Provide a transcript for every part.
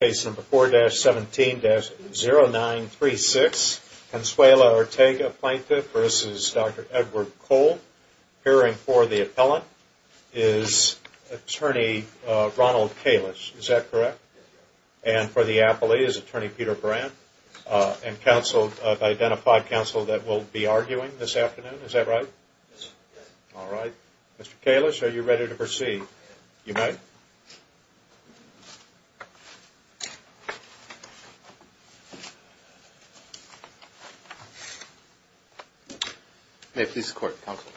Case number 4-17-0936, Consuela Ortega Plaintiff v. Dr. Edward Kolb. Appearing for the appellant is Attorney Ronald Kalish, is that correct? And for the appellee is Attorney Peter Brandt. And counsel, I've identified counsel that will be arguing this afternoon, is that right? Alright. Mr. Kalish, are you ready to proceed? You may. May it please the court, counsel.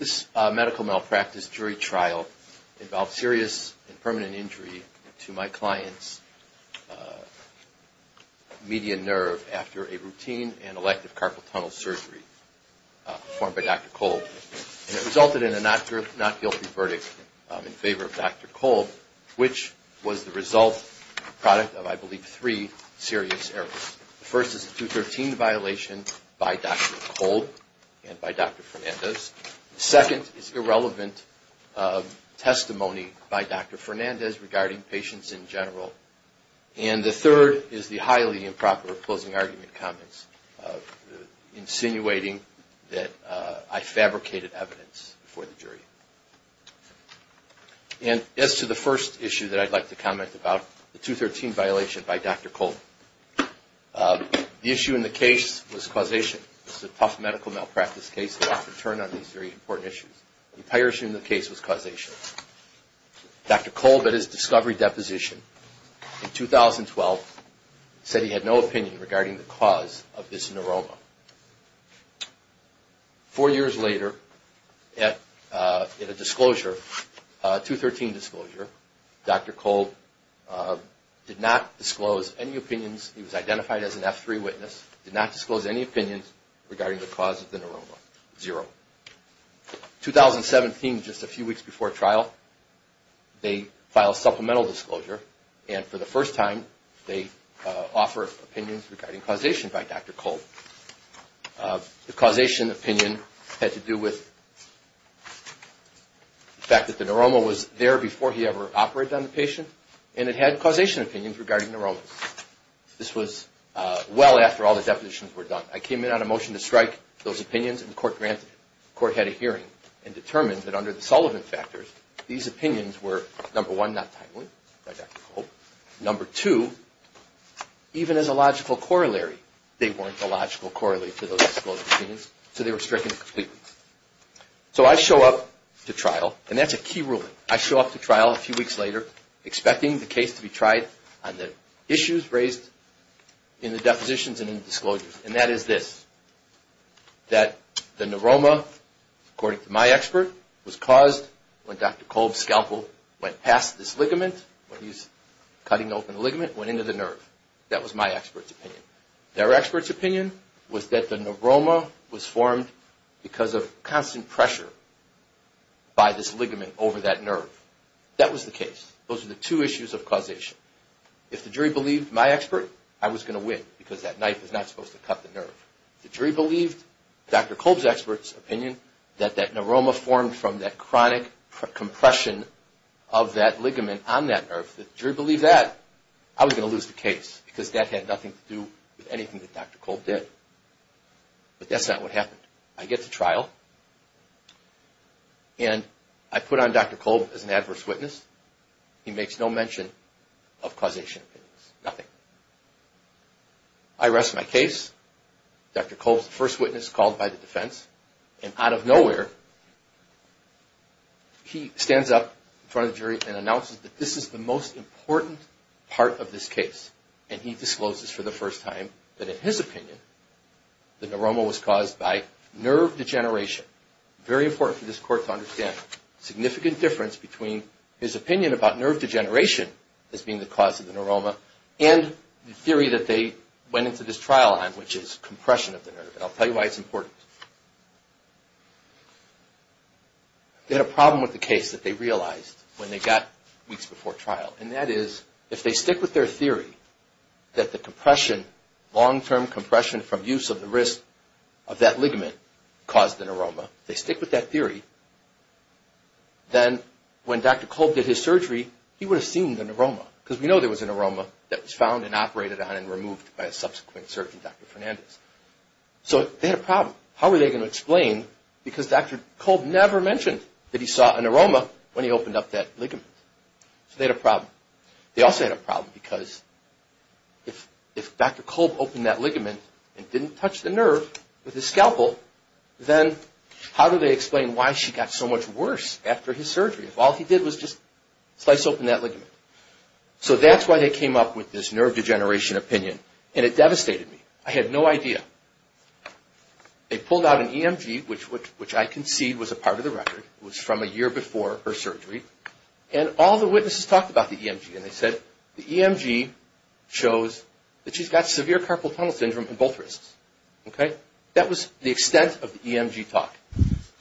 This medical malpractice jury trial involved serious and permanent injury to my client's median nerve after a routine and elective carpal tunnel surgery performed by Dr. Kolb. And it resulted in a not guilty verdict in favor of Dr. Kolb, which was the result, product of, I believe, three serious errors. The first is a 213 violation by Dr. Kolb and by Dr. Fernandez. The second is irrelevant testimony by Dr. Fernandez regarding patients in general. And the third is the highly improper closing argument comments, insinuating that I fabricated evidence for the jury. And as to the first issue that I'd like to comment about, the 213 violation by Dr. Kolb. The issue in the case was causation. This is a tough medical malpractice case that often turned on these very important issues. The prior issue in the case was causation. Dr. Kolb, at his discovery deposition in 2012, said he had no opinion regarding the cause of this neuroma. Four years later, at a disclosure, a 213 disclosure, Dr. Kolb did not disclose any opinions. He was identified as an F3 witness. Did not disclose any opinions regarding the cause of the neuroma. Zero. In 2017, just a few weeks before trial, they file a supplemental disclosure. And for the first time, they offer opinions regarding causation by Dr. Kolb. The causation opinion had to do with the fact that the neuroma was there before he ever operated on the patient. And it had causation opinions regarding neuromas. This was well after all the depositions were done. I came in on a motion to strike those opinions, and the court granted it. The court had a hearing, and determined that under the Sullivan factors, these opinions were, number one, not timely by Dr. Kolb. Number two, even as a logical corollary, they weren't a logical corollary to those disclosed opinions. So they were stricken completely. So I show up to trial, and that's a key ruling. I show up to trial a few weeks later, expecting the case to be tried on the issues raised in the depositions and in the disclosures. And that is this, that the neuroma, according to my expert, was caused when Dr. Kolb's scalpel went past this ligament, when he's cutting open the ligament, went into the nerve. That was my expert's opinion. Their expert's opinion was that the neuroma was formed because of constant pressure by this ligament over that nerve. That was the case. Those were the two issues of causation. If the jury believed my expert, I was going to win, because that knife is not supposed to cut the nerve. If the jury believed Dr. Kolb's expert's opinion, that that neuroma formed from that chronic compression of that ligament on that nerve, if the jury believed that, I was going to lose the case, because that had nothing to do with anything that Dr. Kolb did. But that's not what happened. I get to trial, and I put on Dr. Kolb as an adverse witness. He makes no mention of causation. Nothing. I rest my case. Dr. Kolb's the first witness called by the defense. And out of nowhere, he stands up in front of the jury and announces that this is the most important part of this case. And he discloses for the first time that in his opinion, the neuroma was caused by nerve degeneration. Very important for this court to understand. Significant difference between his opinion about nerve degeneration as being the cause of the neuroma, and the theory that they went into this trial on, which is compression of the nerve. And I'll tell you why it's important. They had a problem with the case that they realized when they got weeks before trial. And that is, if they stick with their theory, that the compression, long-term compression from use of the wrist of that ligament, caused the neuroma. They stick with that theory. Then when Dr. Kolb did his surgery, he would have seen the neuroma. Because we know there was a neuroma that was found and operated on and removed by a subsequent surgeon, Dr. Fernandez. So they had a problem. How were they going to explain? Because Dr. Kolb never mentioned that he saw a neuroma when he opened up that ligament. So they had a problem. They also had a problem because, if Dr. Kolb opened that ligament and didn't touch the nerve with his scalpel, then how do they explain why she got so much worse after his surgery? If all he did was just slice open that ligament? So that's why they came up with this nerve degeneration opinion. And it devastated me. I had no idea. They pulled out an EMG, which I concede was a part of the record. It was from a year before her surgery. And all the witnesses talked about the EMG. And they said the EMG shows that she's got severe carpal tunnel syndrome in both wrists. That was the extent of the EMG talk.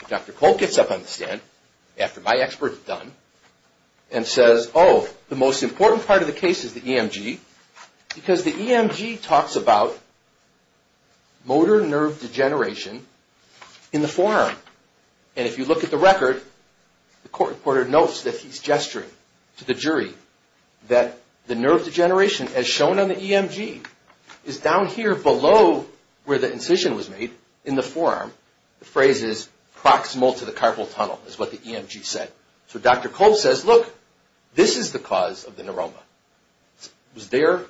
Dr. Kolb gets up on the stand, after my expert had done, and says, oh, the most important part of the case is the EMG because the EMG talks about motor nerve degeneration in the forearm. And if you look at the record, the court reporter notes that he's gesturing to the jury that the nerve degeneration, as shown on the EMG, is down here below where the incision was made in the forearm. The phrase is proximal to the carpal tunnel, is what the EMG said. So Dr. Kolb says, look, this is the cause of the neuroma. It was there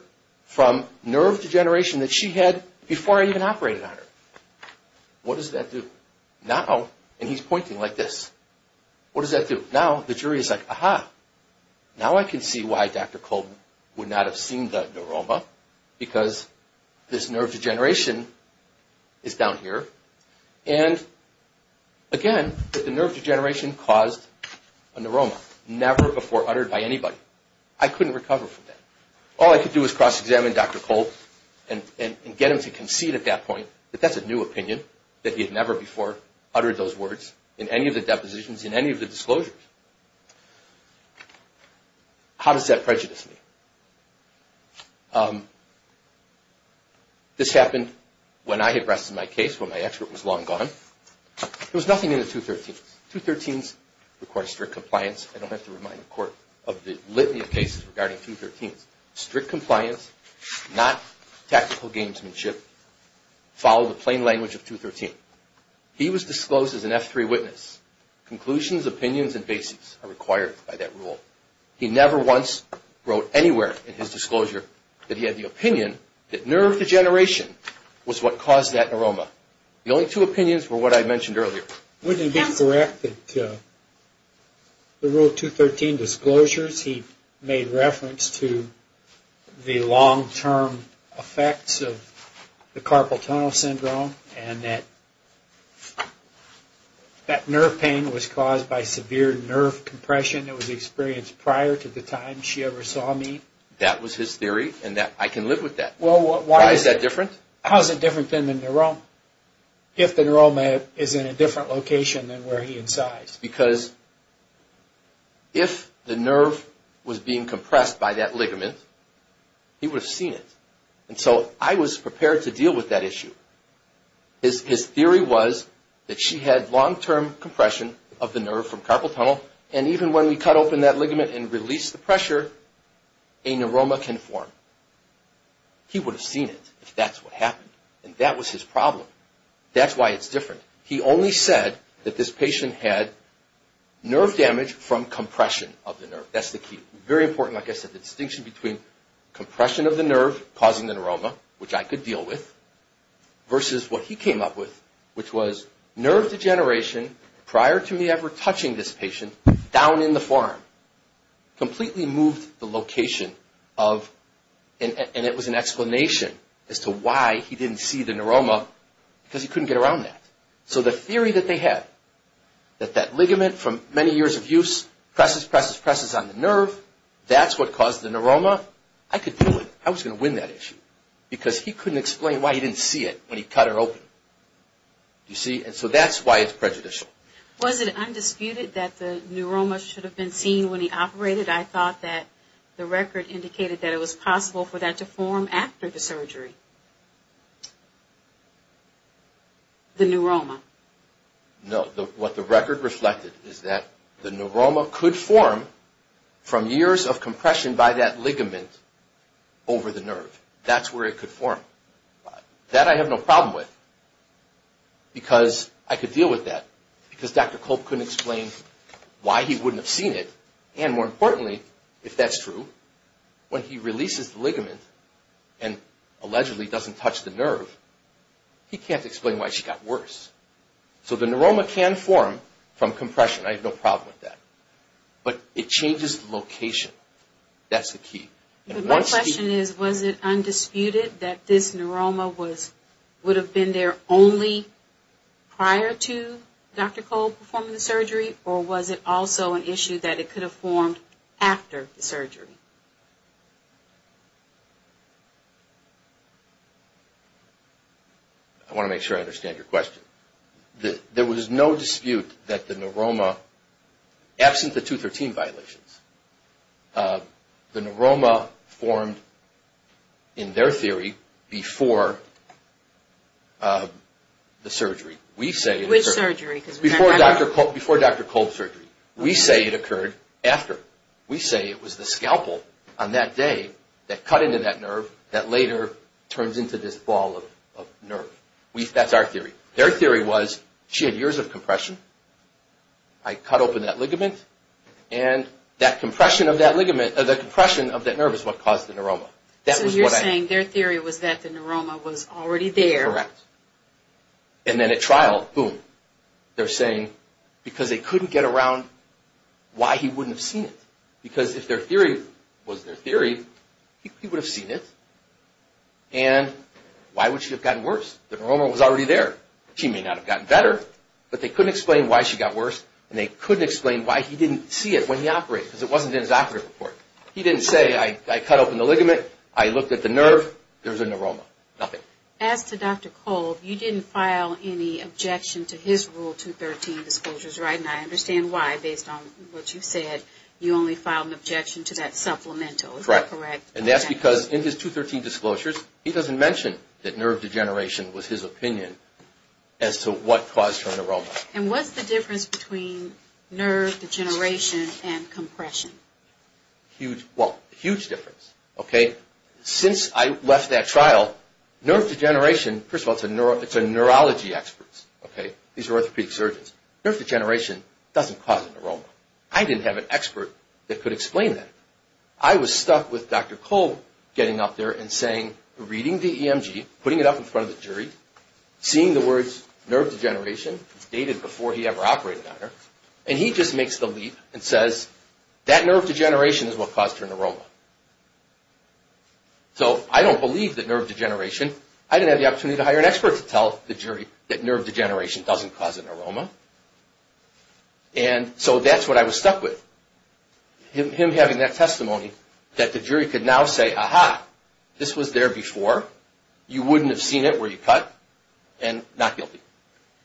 from nerve degeneration that she had before I even operated on her. What does that do? Now, and he's pointing like this, what does that do? Now the jury is like, aha. Now I can see why Dr. Kolb would not have seen the neuroma because this nerve degeneration is down here. And again, the nerve degeneration caused a neuroma, never before uttered by anybody. I couldn't recover from that. All I could do is cross-examine Dr. Kolb and get him to concede at that point that that's a new opinion, that he had never before uttered those words in any of the depositions, in any of the disclosures. How does that prejudice me? This happened when I had rested my case, when my expert was long gone. There was nothing in the 213s. The 213s require strict compliance. I don't have to remind the court of the litany of cases regarding 213s. Strict compliance, not tactical gamesmanship, follow the plain language of 213. He was disclosed as an F3 witness. Conclusions, opinions, and bases are required by that rule. He never once wrote anywhere in his disclosure that he had the opinion that nerve degeneration was what caused that neuroma. The only two opinions were what I mentioned earlier. Wouldn't it be correct that the Rule 213 disclosures, he made reference to the long-term effects of the carpal tunnel syndrome, and that nerve pain was caused by severe nerve compression that was experienced prior to the time she ever saw me? That was his theory, and I can live with that. Why is that different? How is it different than the neuroma, if the neuroma is in a different location than where he incised? It's because if the nerve was being compressed by that ligament, he would have seen it. And so I was prepared to deal with that issue. His theory was that she had long-term compression of the nerve from carpal tunnel, and even when we cut open that ligament and release the pressure, a neuroma can form. He would have seen it if that's what happened. And that was his problem. That's why it's different. He only said that this patient had nerve damage from compression of the nerve. That's the key. Very important, like I said, the distinction between compression of the nerve causing the neuroma, which I could deal with, versus what he came up with, which was nerve degeneration prior to me ever touching this patient, down in the form. Completely moved the location of, and it was an explanation as to why he didn't see the neuroma, because he couldn't get around that. So the theory that they had, that that ligament from many years of use, presses, presses, presses on the nerve, that's what caused the neuroma, I could deal with it. I was going to win that issue. Because he couldn't explain why he didn't see it when he cut her open. You see? And so that's why it's prejudicial. Was it undisputed that the neuroma should have been seen when he operated? I thought that the record indicated that it was possible for that to form after the surgery. The neuroma? No. What the record reflected is that the neuroma could form from years of compression by that ligament over the nerve. That's where it could form. That I have no problem with. Because I could deal with that. Because Dr. Kolb couldn't explain why he wouldn't have seen it. when he releases the ligament, and allegedly doesn't touch the nerve, he can't explain why she got worse. So the neuroma can form from compression. I have no problem with that. But it changes the location. That's the key. My question is, was it undisputed that this neuroma would have been there only prior to Dr. Kolb performing the surgery? Or was it also an issue that it could have formed after the surgery? I want to make sure I understand your question. There was no dispute that the neuroma, absent the 213 violations, the neuroma formed in their theory before the surgery. Which surgery? Before Dr. Kolb's surgery. We say it occurred after. We say it was the scalpel on that day that cut into that nerve that later turns into this ball of nerve. That's our theory. Their theory was, she had years of compression, I cut open that ligament, and that compression of that nerve is what caused the neuroma. So you're saying their theory was that the neuroma was already there. Correct. And then at trial, boom. They're saying, because they couldn't get around why he wouldn't have seen it. Because if their theory was their theory, he would have seen it. And why would she have gotten worse? The neuroma was already there. She may not have gotten better, but they couldn't explain why she got worse, and they couldn't explain why he didn't see it when he operated, because it wasn't in his operative report. He didn't say, I cut open the ligament, I looked at the nerve, there was a neuroma. Nothing. As to Dr. Kolb, you didn't file any objection to his Rule 213 disclosures, right? And I understand why, based on what you said, you only filed an objection to that supplemental. Correct. And that's because in his 213 disclosures, he doesn't mention that nerve degeneration was his opinion as to what caused her neuroma. And what's the difference between nerve degeneration and compression? Huge. Well, huge difference. Okay? Since I left that trial, nerve degeneration, first of all, it's a neurology expert. These are orthopedic surgeons. Nerve degeneration doesn't cause a neuroma. I didn't have an expert that could explain that. I was stuck with Dr. Kolb getting up there and saying, reading the EMG, putting it up in front of the jury, seeing the words nerve degeneration, it's dated before he ever operated on her, and he just makes the leap and says, that nerve degeneration is what caused her neuroma. So, I don't believe that nerve degeneration, I didn't have the opportunity to hire an expert to tell the jury that nerve degeneration doesn't cause a neuroma. And so, that's what I was stuck with. Him having that testimony, that the jury could now say, aha, this was there before, you wouldn't have seen it were you cut, and not guilty.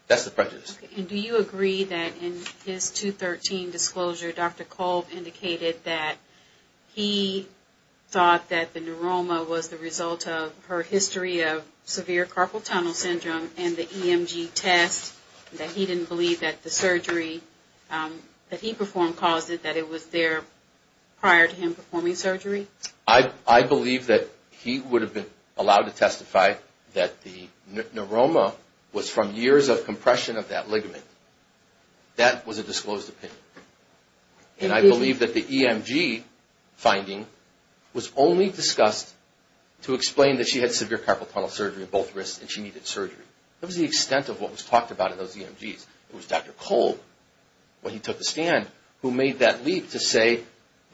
That's the prejudice. And do you agree that in his 2013 disclosure, Dr. Kolb indicated that he thought that the neuroma was the result of her history of severe carpal tunnel syndrome and the EMG test, that he didn't believe that the surgery that he performed caused it, that it was there prior to him performing surgery? I believe that he would have been allowed to testify that the neuroma was from years of compression of that ligament. That was a disclosed opinion. And I believe that the EMG finding was only discussed to explain that she had severe carpal tunnel surgery in both wrists and she needed surgery. That was the extent of what was talked about in those EMGs. It was Dr. Kolb when he took the stand who made that leap to say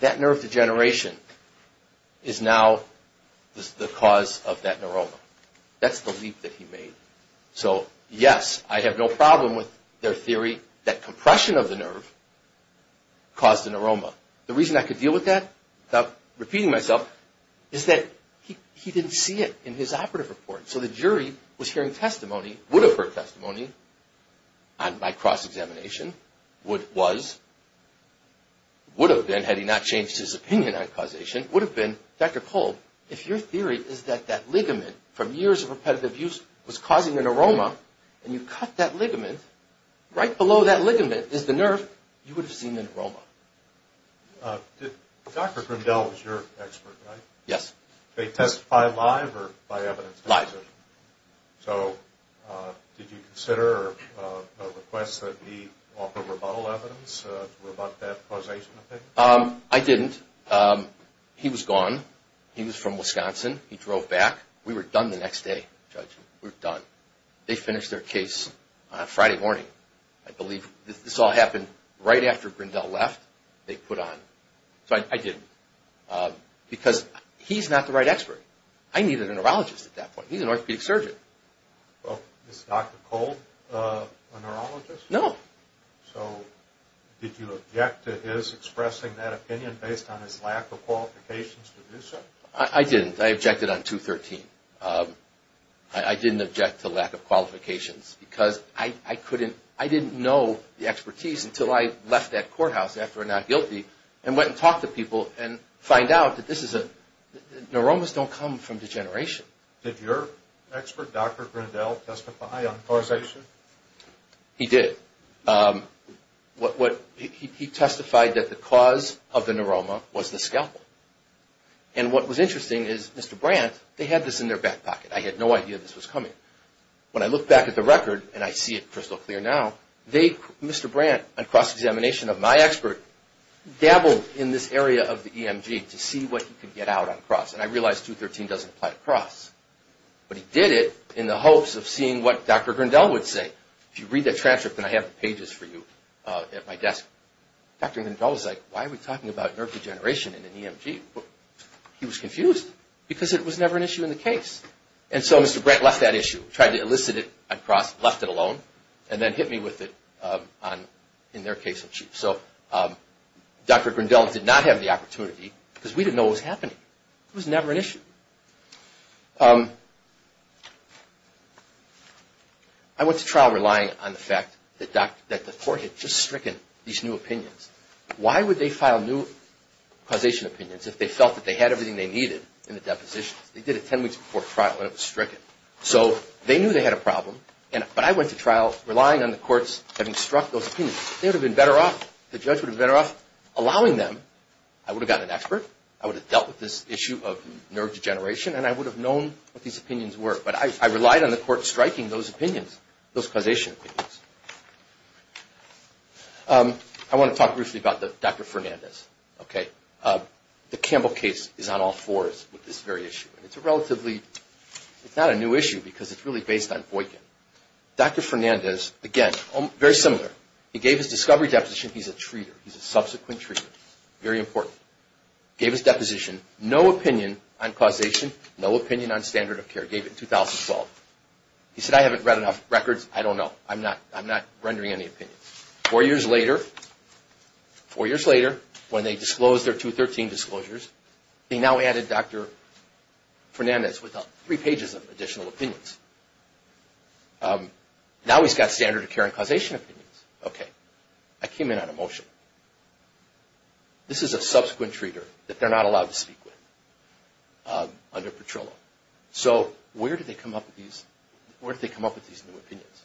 that nerve degeneration is now the cause of that neuroma. That's the leap that he made. So, yes, I have no problem with their theory that compression of the nerve caused the neuroma. The reason I could deal with that without repeating myself is that he didn't see it in his operative report. So the jury was hearing testimony, would have heard testimony on my cross-examination would, was would have been had he not changed his opinion on causation would have been Dr. Kolb if your theory is that that ligament from years of repetitive use was causing a neuroma and you cut that ligament right below that ligament is the nerve you would have seen the neuroma. Dr. Grimdahl was your expert, right? Yes. Did they testify live or by evidence? Live. So did you consider a request that he offer rebuttal evidence to rebut that causation opinion? I didn't. He was gone. He was from Wisconsin. He drove back. We were done the next day, Judge. We were done. They finished their case Friday morning. I believe this all happened right after Grimdahl left they put on. So I didn't because he's not the right expert. I needed a neurologist at that point. He's an orthopedic surgeon. Is Dr. Kolb a neurologist? No. So did you object to his expressing that opinion based on his lack of qualifications to do so? I didn't. I objected on 213. I didn't object to lack of qualifications because I couldn't I didn't know the expertise until I left that courthouse after a not guilty and went and talked to people and find out that this is a neuromas don't come from degeneration. Did your expert Dr. Grimdahl testify on causation? He did. What he testified that the cause of the neuroma was the scalpel. And what was interesting is Mr. Brandt they had this in their back pocket. I had no idea this was coming. When I look back at the record and I see it crystal clear now Mr. Brandt on cross examination of my expert dabbled in this area of the EMG to see what he could get out on cross. And I realized 213 doesn't apply to cross. But he did it in the hopes of seeing what Dr. Grimdahl would say. If you read that transcript then I have the pages for you at my desk. Dr. Grimdahl was like why are we talking about nerve degeneration in an EMG? He was confused because it was never an issue in the case. And so Mr. Brandt left that issue tried to elicit it on cross left it alone and then hit me with it in their case on chief. So Dr. Grimdahl did not have the opportunity because we didn't know what was happening. It was never an issue. I went to trial relying on the fact that the court had just stricken these new opinions. Why would they file new causation opinions if they felt they had everything they needed in the deposition? They did it 10 weeks before trial and it was stricken. So they knew they had a problem but I went to trial. I would have gotten an expert. I would have dealt with this issue of nerve degeneration and I would have known what these opinions were. But I relied on the court striking those causation opinions. I want to talk briefly about Dr. Fernandez. The Campbell case is on all fours with this very issue. It's not a new issue because it's really based on Boykin. Dr. Fernandez, again, very similar. He gave his discovery deposition. He's a treater. He's a subsequent treater. Very important. Gave his deposition. No opinion on causation. No opinion on standard of care. Gave it in 2012. He said, I haven't read enough records. I don't know. I'm not rendering any opinions. Four years later, four years later, when they disclosed their 213 disclosures, they now added Dr. Fernandez with three pages of additional opinions. Now he's got standard of care and causation opinions. Okay. I came in on a motion. This is a subsequent treater that they're not allowed to speak with under Petrillo. So where did they come up with these new opinions?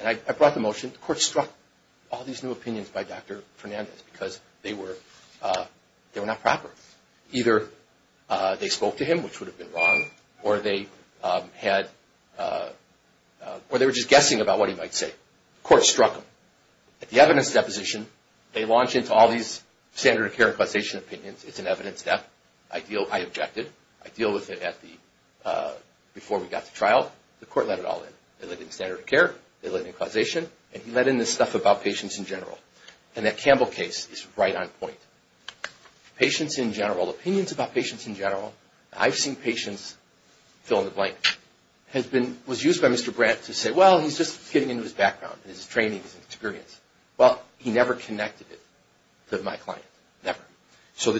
And I brought the motion. The court struck all these new opinions by Dr. Fernandez because they were not proper. Either they spoke to him, which would have been wrong, or they had, or they were just guessing about what he might say. The court struck them. At the evidence deposition, they launch into all these standard of care and causation opinions. It's an evidence step. I objected. I deal with it before we got to trial. The court let it all in. They let in standard of care. They let in standard of care. The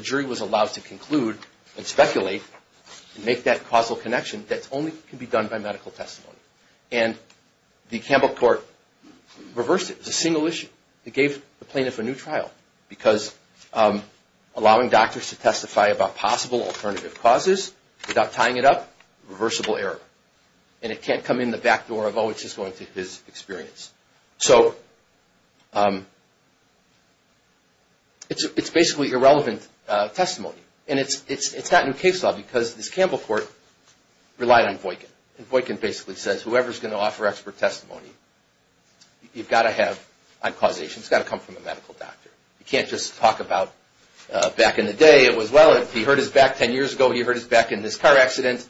jury was allowed to conclude and speculate and make that causal connection that only can be done by medical testimony. And the Campbell Court reversed it. It was a single issue. It gave the plaintiff a new trial because allowing doctors to testify about possible alternative causes without tying it up, reversible error. And it can't come in the back door of, oh, it's just his experience. So, it's basically irrelevant testimony. And it's not in case law because this Campbell Court relied on Boykin. And Boykin basically says whoever is going to offer expert testimony, you've got to have causation. It's got to come from a medical doctor. You can't just talk about back in the day it was, well, he hurt his back 10 years ago, he hurt his back in this car accident.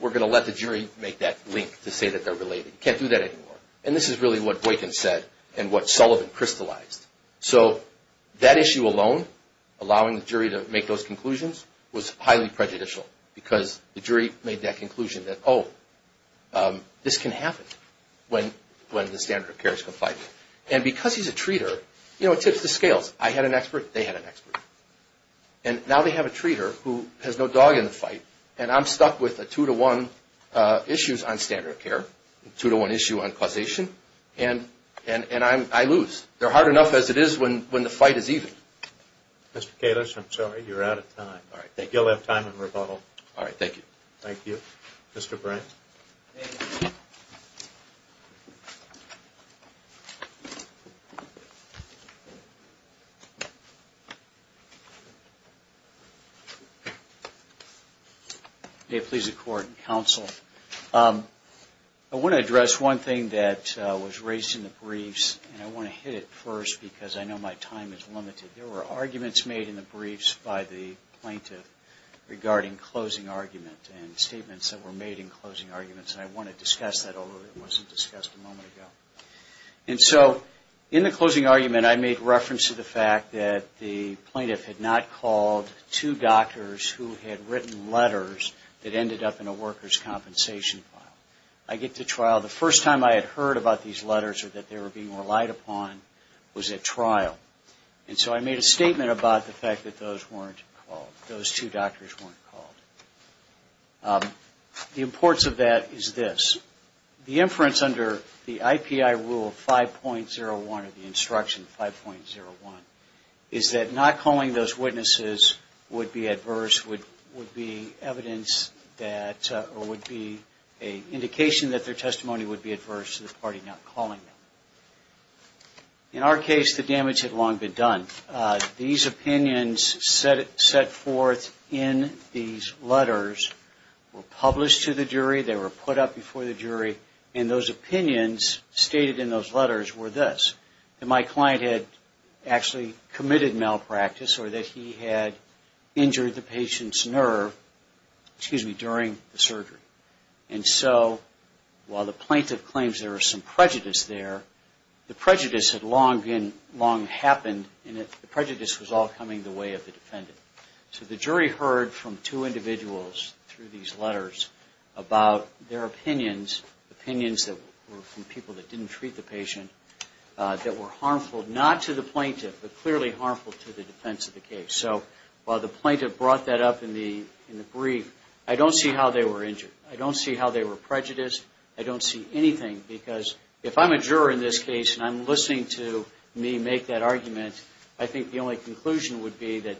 We're going to let the jury make that link to say that they're related. You can't do that anymore. And this is really what Boykin said and what Sullivan crystallized. So, that issue alone, allowing the jury to make those conclusions, was highly prejudicial because the jury made that that, oh, this can happen when the standard of care is compliant. And because he's a treater, you know, it tips the scales. I had an expert, they had an expert. And now they have a treater who has no dog in the fight and I'm stuck with a two-to-one issues on standard of care, two-to-one issue on causation, and I lose. They're hard enough as it is when the fight is even. Mr. Kalish, I'm sorry, you're out of time. All right, thank you. You'll have time in rebuttal. All right, thank you. Thank you. Mr. Brant. May it please the Court, counsel, I want to address one thing that was raised in the briefs and I want to hit it first because I know my time is limited. There were arguments made in the briefs by the plaintiff regarding closing argument and statements that were made in closing arguments and I want to discuss that although it wasn't in the briefs. I get to trial, the first time I had heard about these letters or that they were being relied upon was at trial and so I made a statement about the fact that those two doctors weren't called. The importance of that is this. The inference under the I.P.I. rule 5.01 or the instruction 5.01 is that not calling those witnesses would be adverse, would be evidence that or would be an indication that their testimony would be adverse to the party not calling them. In our case, the damage had long been done. These opinions set forth in these letters were published to the jury, they were put up in front of the jury and those opinions stated in those letters were this. That my client had actually committed malpractice or that he had injured the patient's nerve during the surgery. And so while the plaintiff claims there was some prejudice there, the prejudice had long happened and the prejudice was all coming the way of the defendant. So the jury heard from two individuals through these letters about their opinions, opinions that were from people that didn't treat the patient, that were harmful not to the plaintiff, but clearly harmful to the defense of the case. So while the plaintiff brought that up in the brief, I don't see how they were injured. I don't see how they were prejudiced. I don't see anything because if I'm a juror in this case and I'm listening to me make that argument, I think the only conclusion would be that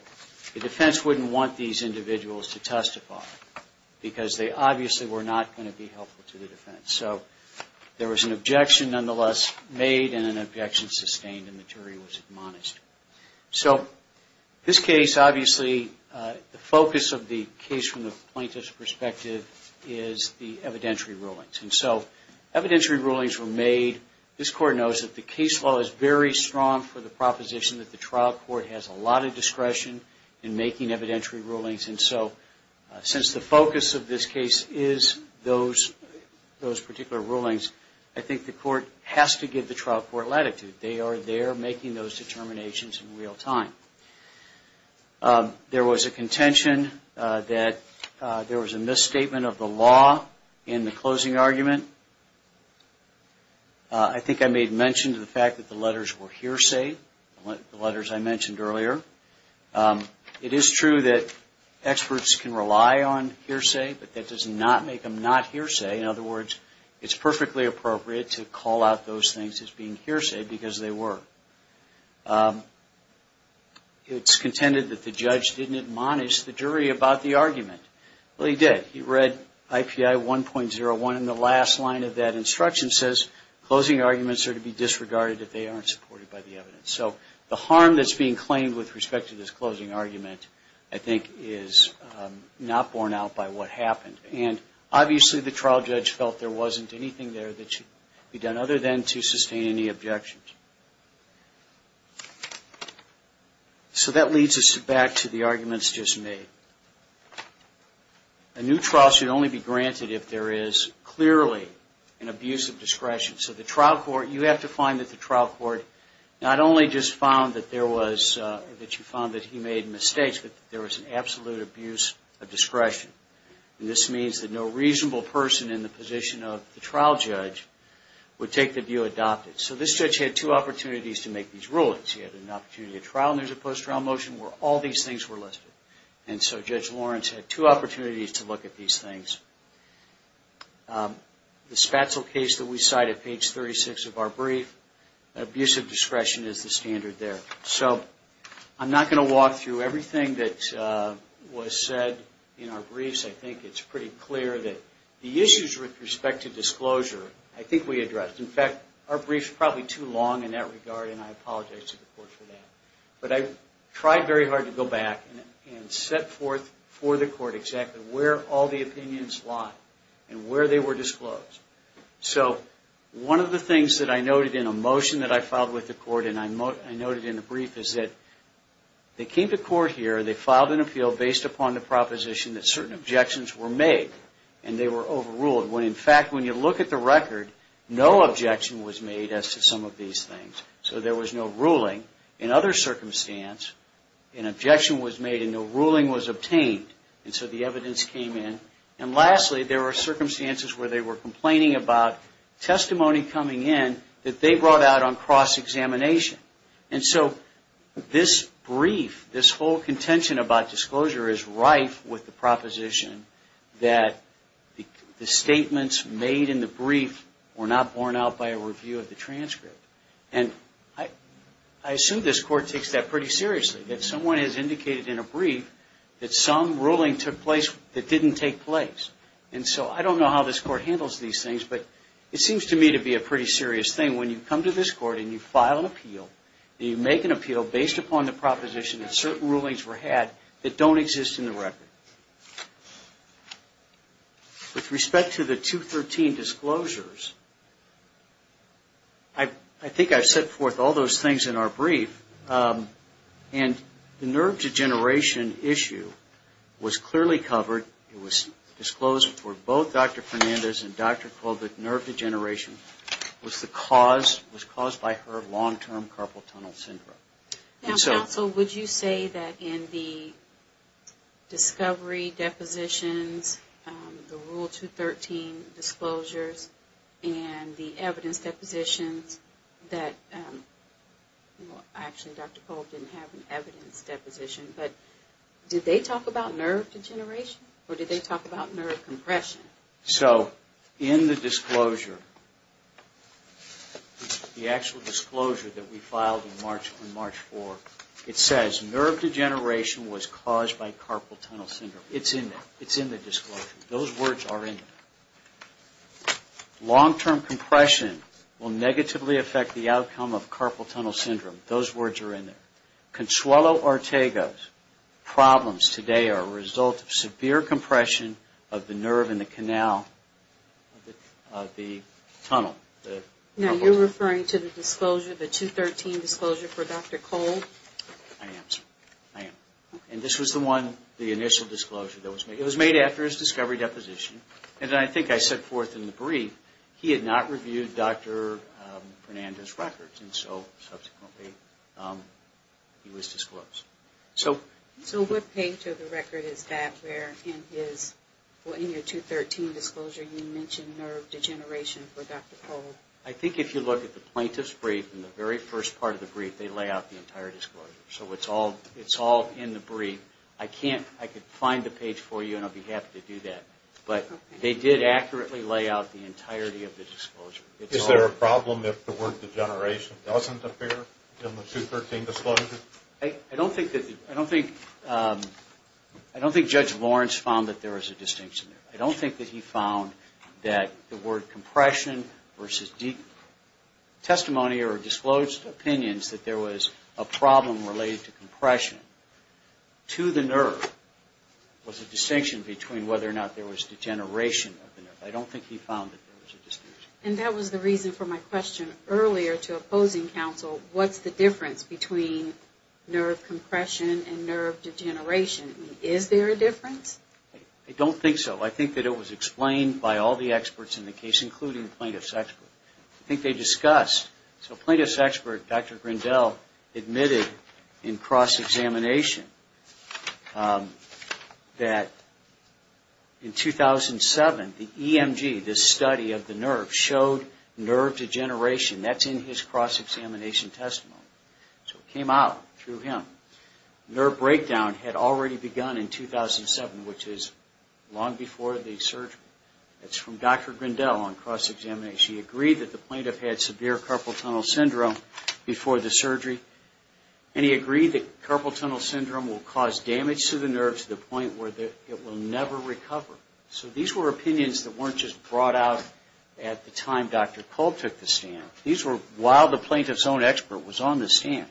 the defense wouldn't want these individuals to testify because they obviously were not going to be helpful to the defense. So there was an objection nonetheless made and an objection sustained and the jury was admonished. So this case obviously the focus of the case from the plaintiff's perspective is the evidentiary rulings. And so evidentiary rulings were made. This Court knows that the case as well as very strong for the proposition that the trial court has a lot of discretion in making evidentiary rulings. And so since the focus of this case is those particular rulings, I think the Court has to give the trial court latitude. They are there making those determinations in real time. There was a contention that there was a misstatement of the law in the closing argument. I think I made mention of the fact that the letters were hearsay, the letters I mentioned earlier. It is true that experts can rely on hearsay, but that does not make them not hearsay. In other words, it is perfectly appropriate to call out those things as being hearsay because they were. It is contended that the judge did not admonish the jury about the argument. Well, he did. He read IPI 1.01 and the last line of that instruction says, closing arguments are to be disregarded if they aren't supported by the evidence. So the harm that's being claimed with respect to this closing argument, I think, is not borne out by what happened. And obviously the trial judge felt there wasn't anything there that should be done other than to sustain any objections. So that leads us back to the arguments just made. A new trial should only be granted if there is clearly an abuse of discretion. So the trial court, you have to find that the trial court not only just found that there was, that you found that he made mistakes, but there was an absolute abuse of discretion. And this means that no reasonable person in the position of the trial judge would take the view adopted. So this judge had two opportunities to make these rulings. He had an opportunity to trial and there was a post-trial motion where all these things were listed. And so Judge was said in our briefs, I think it's pretty clear that the issues with respect to disclosure, I think we addressed. In fact, our brief's probably too long in that regard and I apologize to the court for that. But I tried very hard to go back and set forth for the court exactly where all the issues were. And so the evidence came in and lastly, there were circumstances where they were complaining about testimony coming in that they brought out on cross examination. And so this brief, this whole contention about disclosure is really rife with the proposition that the statements made in the brief were not borne out by a review of the transcript. And I assume this court takes that pretty seriously. That someone has indicated in a brief that some ruling took place that didn't take place. And so I don't know how this court handles these things, but it seems to me to be a pretty serious thing. When you come to this court and you file an appeal and you make an appeal based upon the proposition that certain rulings were had that don't exist in the record. With respect to the 213 disclosures, I think I've set forth all those things in our brief and the nerve degeneration issue was clearly not problem for the juvenile couple tunnel syndrome. Now counsel, would you say that in the discovery depositions, the rule 213 disclosures and the evidence depositions that actually Dr. Cole didn't have an evidence file in March on March 4, it says nerve degeneration was caused by carpal tunnel syndrome. It's in there. It's in the disclosure. Those words are in there. Long-term compression will negatively affect the outcome of carpal tunnel syndrome. Those words are in there. Consuelo Ortega's problems today are a result of severe compression of the nerve in the tunnel. Now, you're the disclosure, the 213 disclosure for Dr. Cole? I am, sir. I am. And this was the one, the initial disclosure that was made. It was made after his discovery deposition. And I think I set forth in the brief, he had not reviewed Dr. Fernandez's records. And so subsequently he was disclosed. So what page of the record is that where in his, in your 213 disclosure you mention nerve degeneration for Dr. Cole? I think if you look at the plaintiff's brief, in the very first part of the brief, they lay out the entire disclosure. So it's all in the brief. I can't, I could find the page for you and I don't think there was a distinction. I don't think that he found that the word compression versus testimony or disclosed opinions that there was a problem related to compression to the nerve was a distinction between whether or not there was degeneration of the nerve. I don't think he found that there was a distinction. And that was the reason for my question earlier to opposing counsel, what's the difference between nerve compression and nerve degeneration? Is there a difference? I don't think so. I think that it was explained by all the testimonies he gave. The EMG, this study of the nerve, showed nerve degeneration. That's in his cross examination testimony. So it came out through him. Nerve breakdown had already begun in 2007, which is long before the surgery. That's from Dr. Grindel on cross examination. He agreed that the plaintiff had severe carpal tunnel syndrome before the surgery. And he agreed that carpal tunnel syndrome will cause damage to the nerve to the point where it will never recover. So these were opinions that weren't just brought out at the time Dr. Culp took the stand. These were while the plaintiff's own expert was on the stand.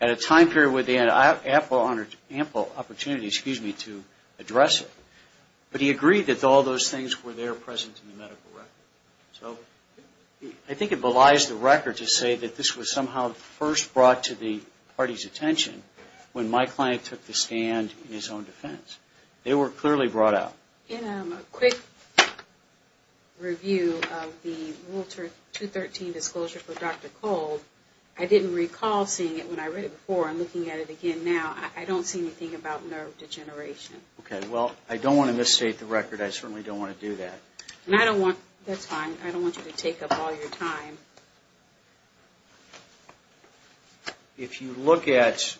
At a time period where they had ample opportunities to address it. But he agreed that all those things were there present in the medical record. So I think it belies the record to say that this was somehow first brought to the party's attention when my client took the stand in his own defense. They were clearly brought out. In a quick review of the Walter 213 disclosure for Dr. Culp, I didn't recall seeing it when I read it before and looking at it again now. I don't see it. If you look at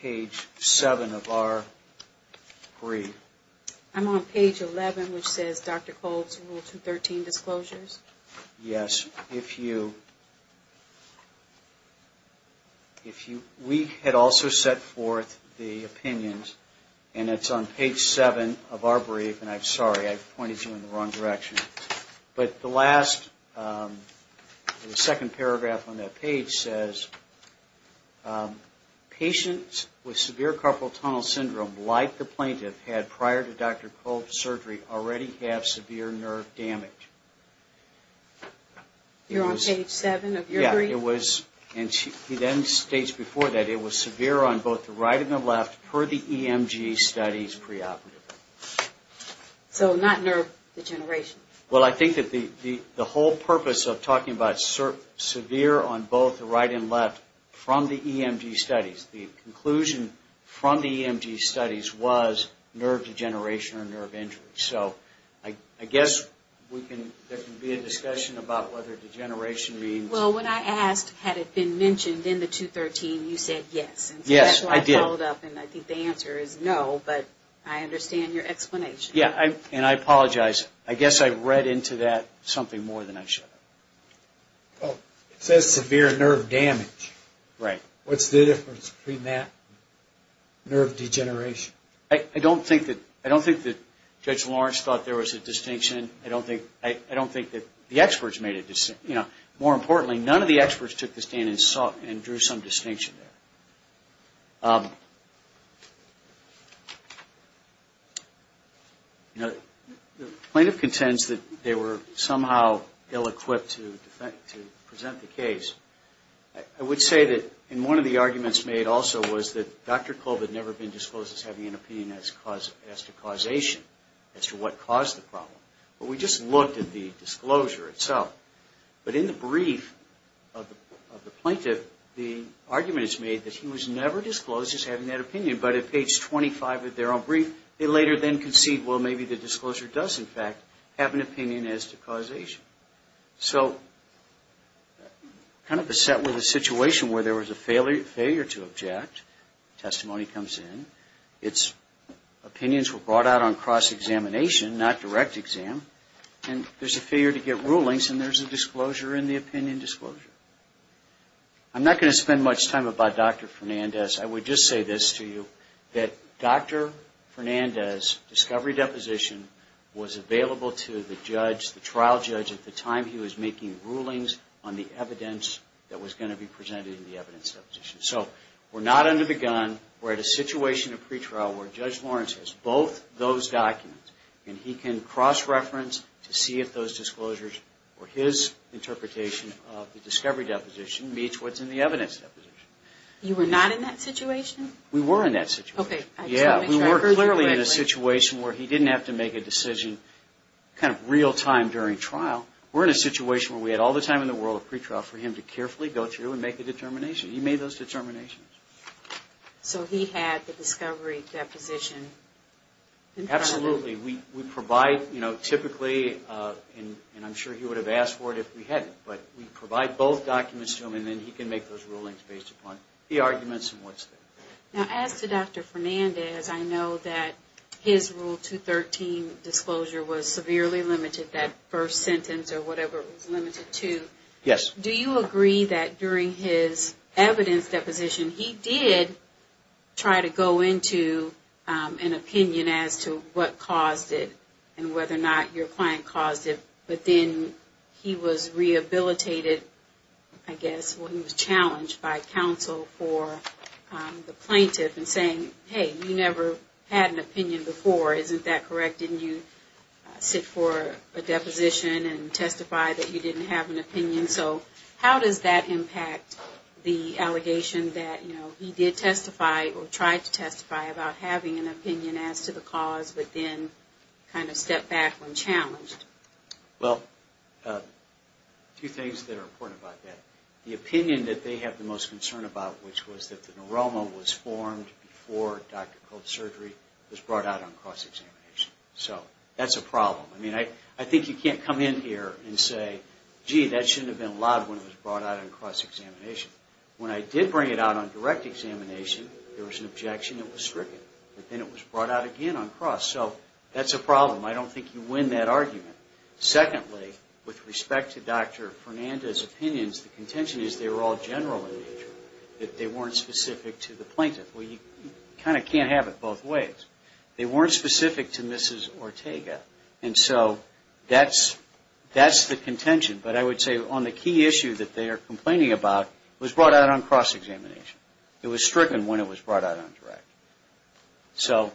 page 7 of our brief. I'm on page 11 which says Dr. Culp's Walter 213 disclosures. Yes. If you we had also set forth the opinions and it's on page 7 of our brief and I'm sorry I pointed you in the wrong direction. But the last second paragraph on that page says patients with severe carpal tunnel syndrome like the plaintiff had prior to Dr. Culp's surgery already have severe nerve damage. You're on page 7 of your brief? Yes. It was and he then states before that it was severe on both the right and the left per the EMG studies preoperative. So not nerve degeneration? Well I think that the whole purpose of talking about severe on both the right and left from the EMG studies, the conclusion from the EMG studies was nerve degeneration or nerve injury. So I guess there can be a discussion about whether degeneration means. Well when I asked had it been mentioned in the 213 you said yes. Yes I did. So I followed up and I think the answer is no but I understand your explanation. Yeah and I apologize. I guess I read into that something more than I should have. It says severe nerve damage. Right. What's the difference between that nerve degeneration? I don't think that Judge Lawrence thought there was a distinction. I don't think that the experts made a distinction. More importantly none of the experts took the stand and drew some distinction there. The plaintiff contends that they were somehow ill equipped to present the case. I would say that in one of the arguments made also was that Dr. Lawrence have an opinion as to causation as to what caused the problem. But we just looked at the disclosure itself. But in the brief of the plaintiff the argument is made that he was never disclosed as having that opinion but at page 25 of their own brief they later then concede well maybe the disclosure does in fact have an opinion as to causation. So kind of beset with a situation where there was a failure to object testimony comes in its opinions were brought out on cross examination not direct examination and there's a failure to get rulings and there's a disclosure in the opinion disclosure. I'm not going to spend much time about Dr. Fernandez. I would just say this to you that Dr. Fernandez discovery deposition was available to the judge the trial judge at the time. He did a cross reference to see if those disclosures were his interpretation of the discovery deposition meets what's in the evidence deposition. You were not in that situation? We were in that situation. We were clearly in a situation where he didn't have to make a decision kind of real time during trial. We're in a situation where we had all the time in the world of pretrial for him to carefully go through and make a determination. He made those determinations. So he had the discovery deposition in front of him? Absolutely. We provide typically and I'm sure he was not in that situation, but he did try to go into an opinion as to what caused it and whether or not your client caused it, but then he was rehabilitated I guess when he was challenged by counsel for the plaintiff and saying hey, you never had an opinion before. Isn't that correct? Didn't you sit for a deposition and testify that you didn't have an opinion? So how does that impact the allegation that he did testify or tried to testify about having an opinion as to the cause but then kind of stepped back when challenged? Well, two things that are important about that. The opinion that they have the most concern about, which was that the neuroma was formed before Dr. Colt's surgery was brought out on cross examination. So that's a problem. I mean, I think you can't come in here and say, gee, that shouldn't have been allowed when it was brought out on cross examination. So that's the argument. Secondly, with respect to Dr. Fernandez's opinions, the contention is they were all general in nature, that they weren't specific to the plaintiff. Well, you kind of can't have it both ways. They weren't specific to Mrs. Ortega, and so that's the contention. But I would say on the key issue that they are complaining about was brought out on cross examination. It was stricken when it was brought out on direct. So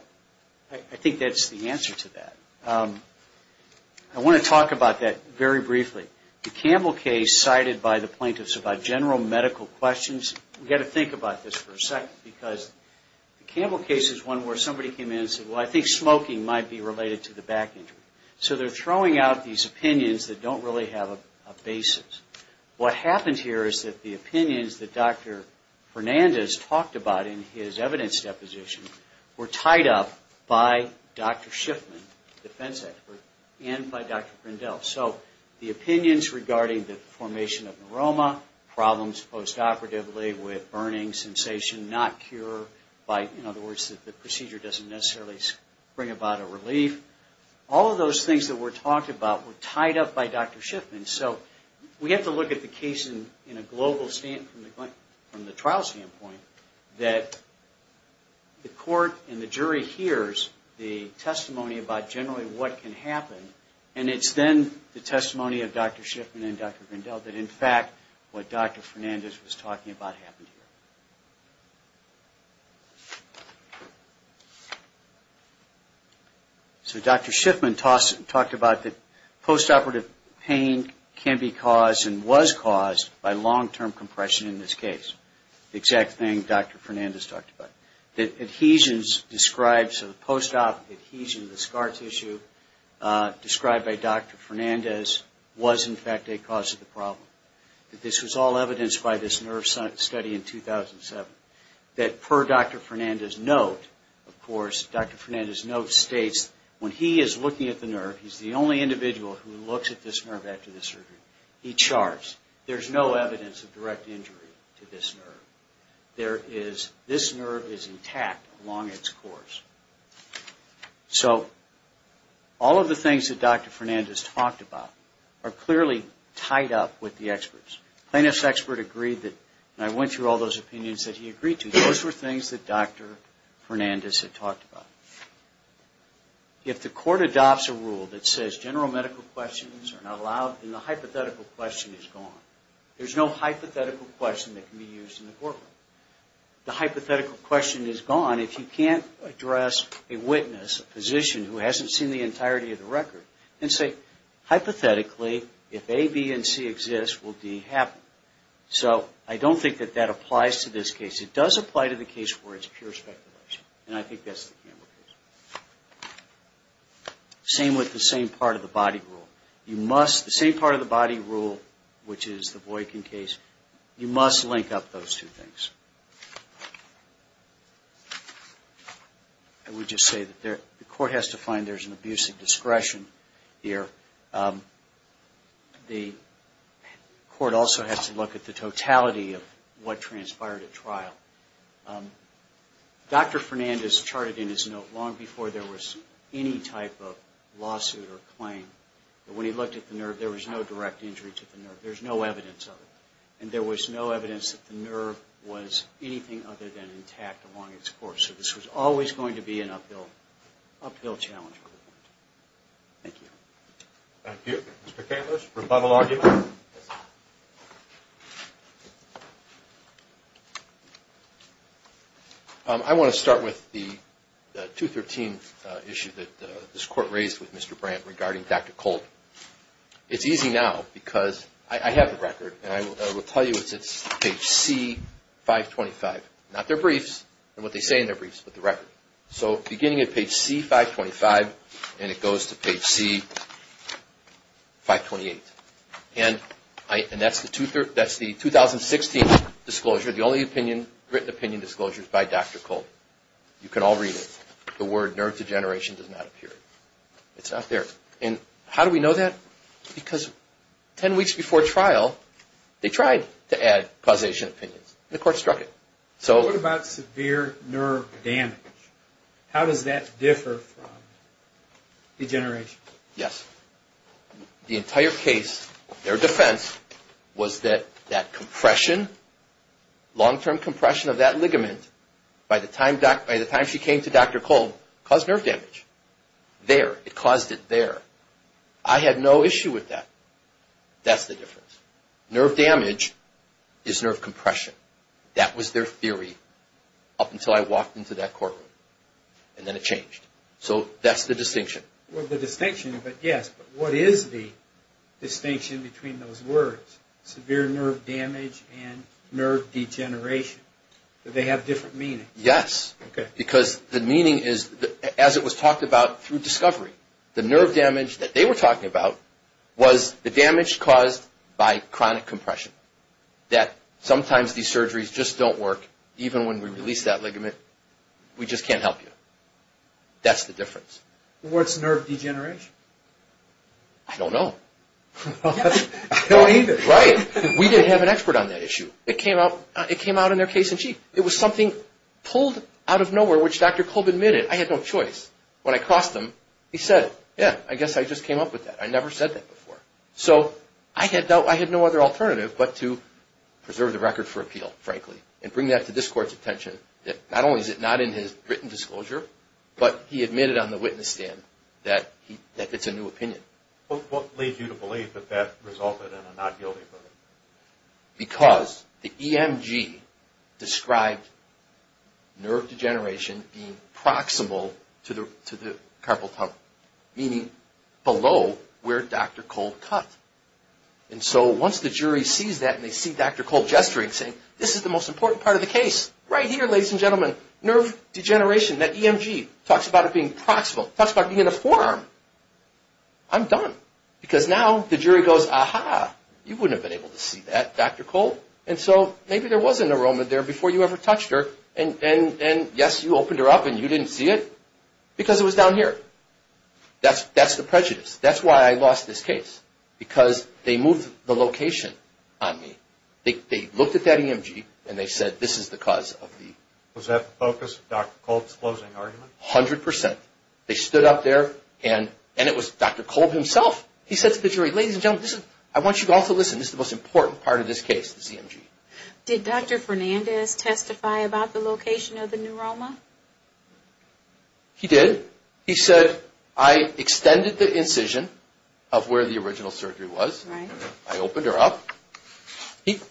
I think that's the answer to that. I want to talk about that very briefly. The Campbell case cited by the plaintiffs about general medical questions, we have to think about this for a second because the Campbell case is one where somebody came in and said, well, I think smoking might be related to the back injury. So they're throwing out these opinions that don't really have a basis. What happened here is that the opinions that Dr. Fernandez talked about in his evidence deposition were tied up by Dr. Schiffman, the defense expert, and by Dr. Schiffman who said that the procedure doesn't necessarily bring about a relief. All of those things that were talked about were tied up by Dr. Schiffman. So we have to look at the case from the trial standpoint that the court and the jury hears the testimony about generally what can happen. And it's then the testimony of Dr. Schiffman and Dr. Grindel that in fact what Dr. Fernandez was talking about happened here. So Dr. Schiffman talked about that post-operative pain can be caused and was caused by long-term compression in this case. The exact thing Dr. Fernandez talked about. That adhesions described, so the post-op adhesion, the scar tissue described by Dr. Fernandez was in fact a cause of the problem. This was all evidenced by this nerve study in 2007. That per Dr. Fernandez's note, of course, Dr. Fernandez's note states when he is looking at the nerve, he's the only individual who looks at this nerve after the surgery. He charts. There's no evidence of direct injury to this nerve. This nerve is intact along its course. So all of the things that Dr. Fernandez talked about are clearly tied up with the experts. Plaintiff's expert agreed that, and I went through all those opinions that he agreed to, those were things that Dr. Fernandez had talked about. If the court adopts a rule that says general medical questions are not allowed, then the hypothetical question is gone. There's no hypothetical question that can be used in the courtroom. The hypothetical question is gone if you can't address a witness, a physician who hasn't seen the entirety of the record and say hypothetically, if A, B, and C exist, will D happen? So I don't think that that applies to this case. It does apply to the case where it's pure speculation. And I think that's the Campbell case. Same with the same part of the body rule. The same part of the body rule, which is the Boykin case, you must link up those two things. I would just say that the court has to find there's an abuse of discretion here. The court also has to look at the totality of what transpired at trial. Dr. Fernandez charted in his note long before there was any type of lawsuit or claim that when he looked at the nerve, there was no direct injury to the nerve. There's no evidence of it. And there was no evidence that the nerve was anything other than intact along its course. So this was always going to be an uphill challenge. Thank you. Thank you. Mr. Cantliss, rebuttal argument? I want to start with the 213 issue that this court Mr. Brandt regarding Dr. Colt. It's easy now because I have the record and I will tell you it's page C 525, not their briefs and what they say in their briefs but the record. So beginning at page C 525 and it goes to page C 528. And that's the 2016 disclosure. The only written opinion disclosure is by Dr. Colt. You can all read it. The word nerve degeneration does not appear. It's not there. And how do we know that? Because 10 weeks before trial they tried to add causation opinions. The court struck it. What about severe nerve damage? How does that differ from the case? Their defense was that compression, long-term compression of that ligament, by the time she came to Dr. Colt, caused nerve damage. There. It caused it there. I had no issue with that. That's the difference. Nerve damage is nerve compression. That was their theory up until I walked into that courtroom. And then it changed. So that's the distinction. Well, the distinction, yes, but what is the distinction between those words, severe nerve damage and nerve degeneration? Do they have different meanings? Yes. Because the meaning is, as it was talked about through discovery, the nerve damage that they were talking about was the difference. We just can't help you. That's the difference. What's nerve degeneration? I don't know. I don't either. Right. We didn't have an expert on that issue. It came out in their case in chief. It was something pulled out of nowhere, which Dr. Colt admitted, I had no choice. When I crossed him, he said, yeah, I guess I just came up with that. I never said that before. So I had no other alternative but to preserve the record for appeal, frankly, and bring that to this court's attention, that not only is it not in his written judgment, is in his record. And so, once the jury sees that and they see Dr. Colt gesturing saying, this is the most important part of the case, right here, ladies and gentlemen, nerve degeneration, that EMG talks about it being proximal, talks about being in the forearm. I'm done. Because now the jury goes, aha, you wouldn't have been able to see that, Dr. Colt. And so maybe there wasn't a moment there before you ever touched her, and yes, you opened her up and you didn't see it because it was down here. That's the prejudice. That's why I lost this case. Because they moved the location on me. They looked at that EMG and they said, this is the cause of the... Was that the focus of Dr. Colt's closing argument? 100%. They stood up there and it was Dr. Colt himself. He said to the jury, I opened her up,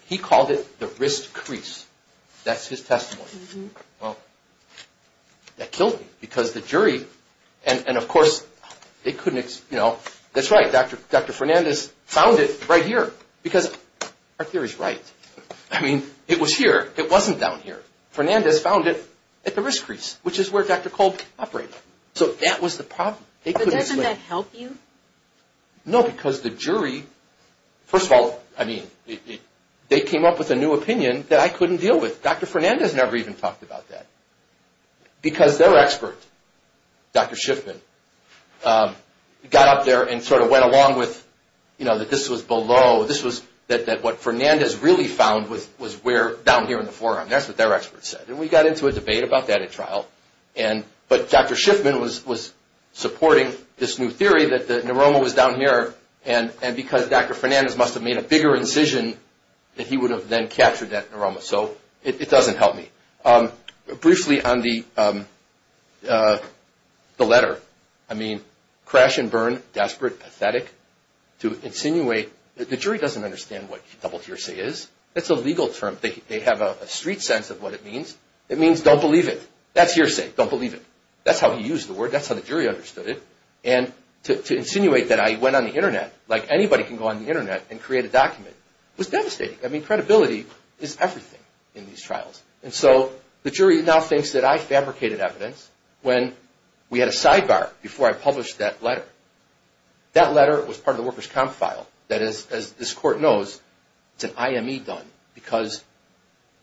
he called it the wrist crease. That's his testimony. That killed me because the jury, and of course, they couldn't explain, that's right, Dr. Fernandez found it right here because our theory is right. I mean, it was here, it wasn't down here. Fernandez found it at the wrist crease, which is where Dr. Colt operated. So that was the problem. But doesn't that help you? No, because the jury, first of all, I mean, they came up with a new opinion that I couldn't deal with. Dr. Fernandez never even talked about that because their expert, Dr. Colt, never even talked about that at trial. But Dr. Schiffman was supporting this new theory that the neuroma was down here and because Dr. Fernandez must have made a bigger incision that he would have then captured that neuroma. So it doesn't help me. Briefly, on the letter, I mean, crash and I said, don't believe it. That's your sake, don't believe it. That's how he used the word, that's how the jury understood it. And to insinuate that I went on the Internet like anybody can go on the Internet and create a document was devastating. I mean, credibility is everything in these trials. And so, the jury now thinks that I fabricated evidence when we had a sidebar before I published that letter. That letter was part of the worker's comp file. That is, as this court knows, it's an IME done because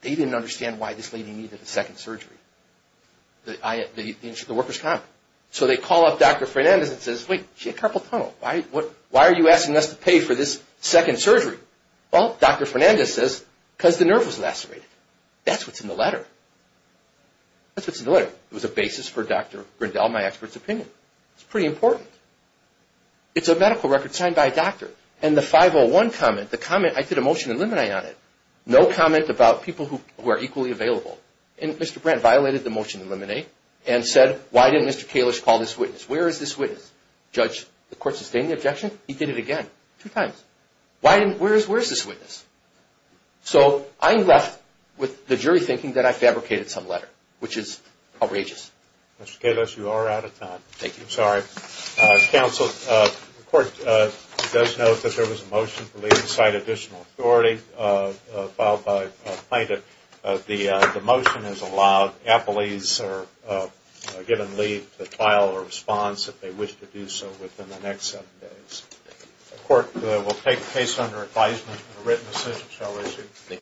they didn't understand why this lady needed a second surgery, the worker's comp. So they call up Dr. Fernandez Dr. Fernandez says, because the nerve was lacerated. That's what's in the letter. That's what's in the letter. It was a basis for Dr. Grindel, my expert's opinion. It's pretty important. It's a medical record signed by a doctor. And the 501 comment, the comment, I did a motion to leave the site additional authority a plaintiff. The motion is allowed. Appellees are given leave to file a response if they wish to do so within the next seven days. The court will take the case under advisement with a written decision. you.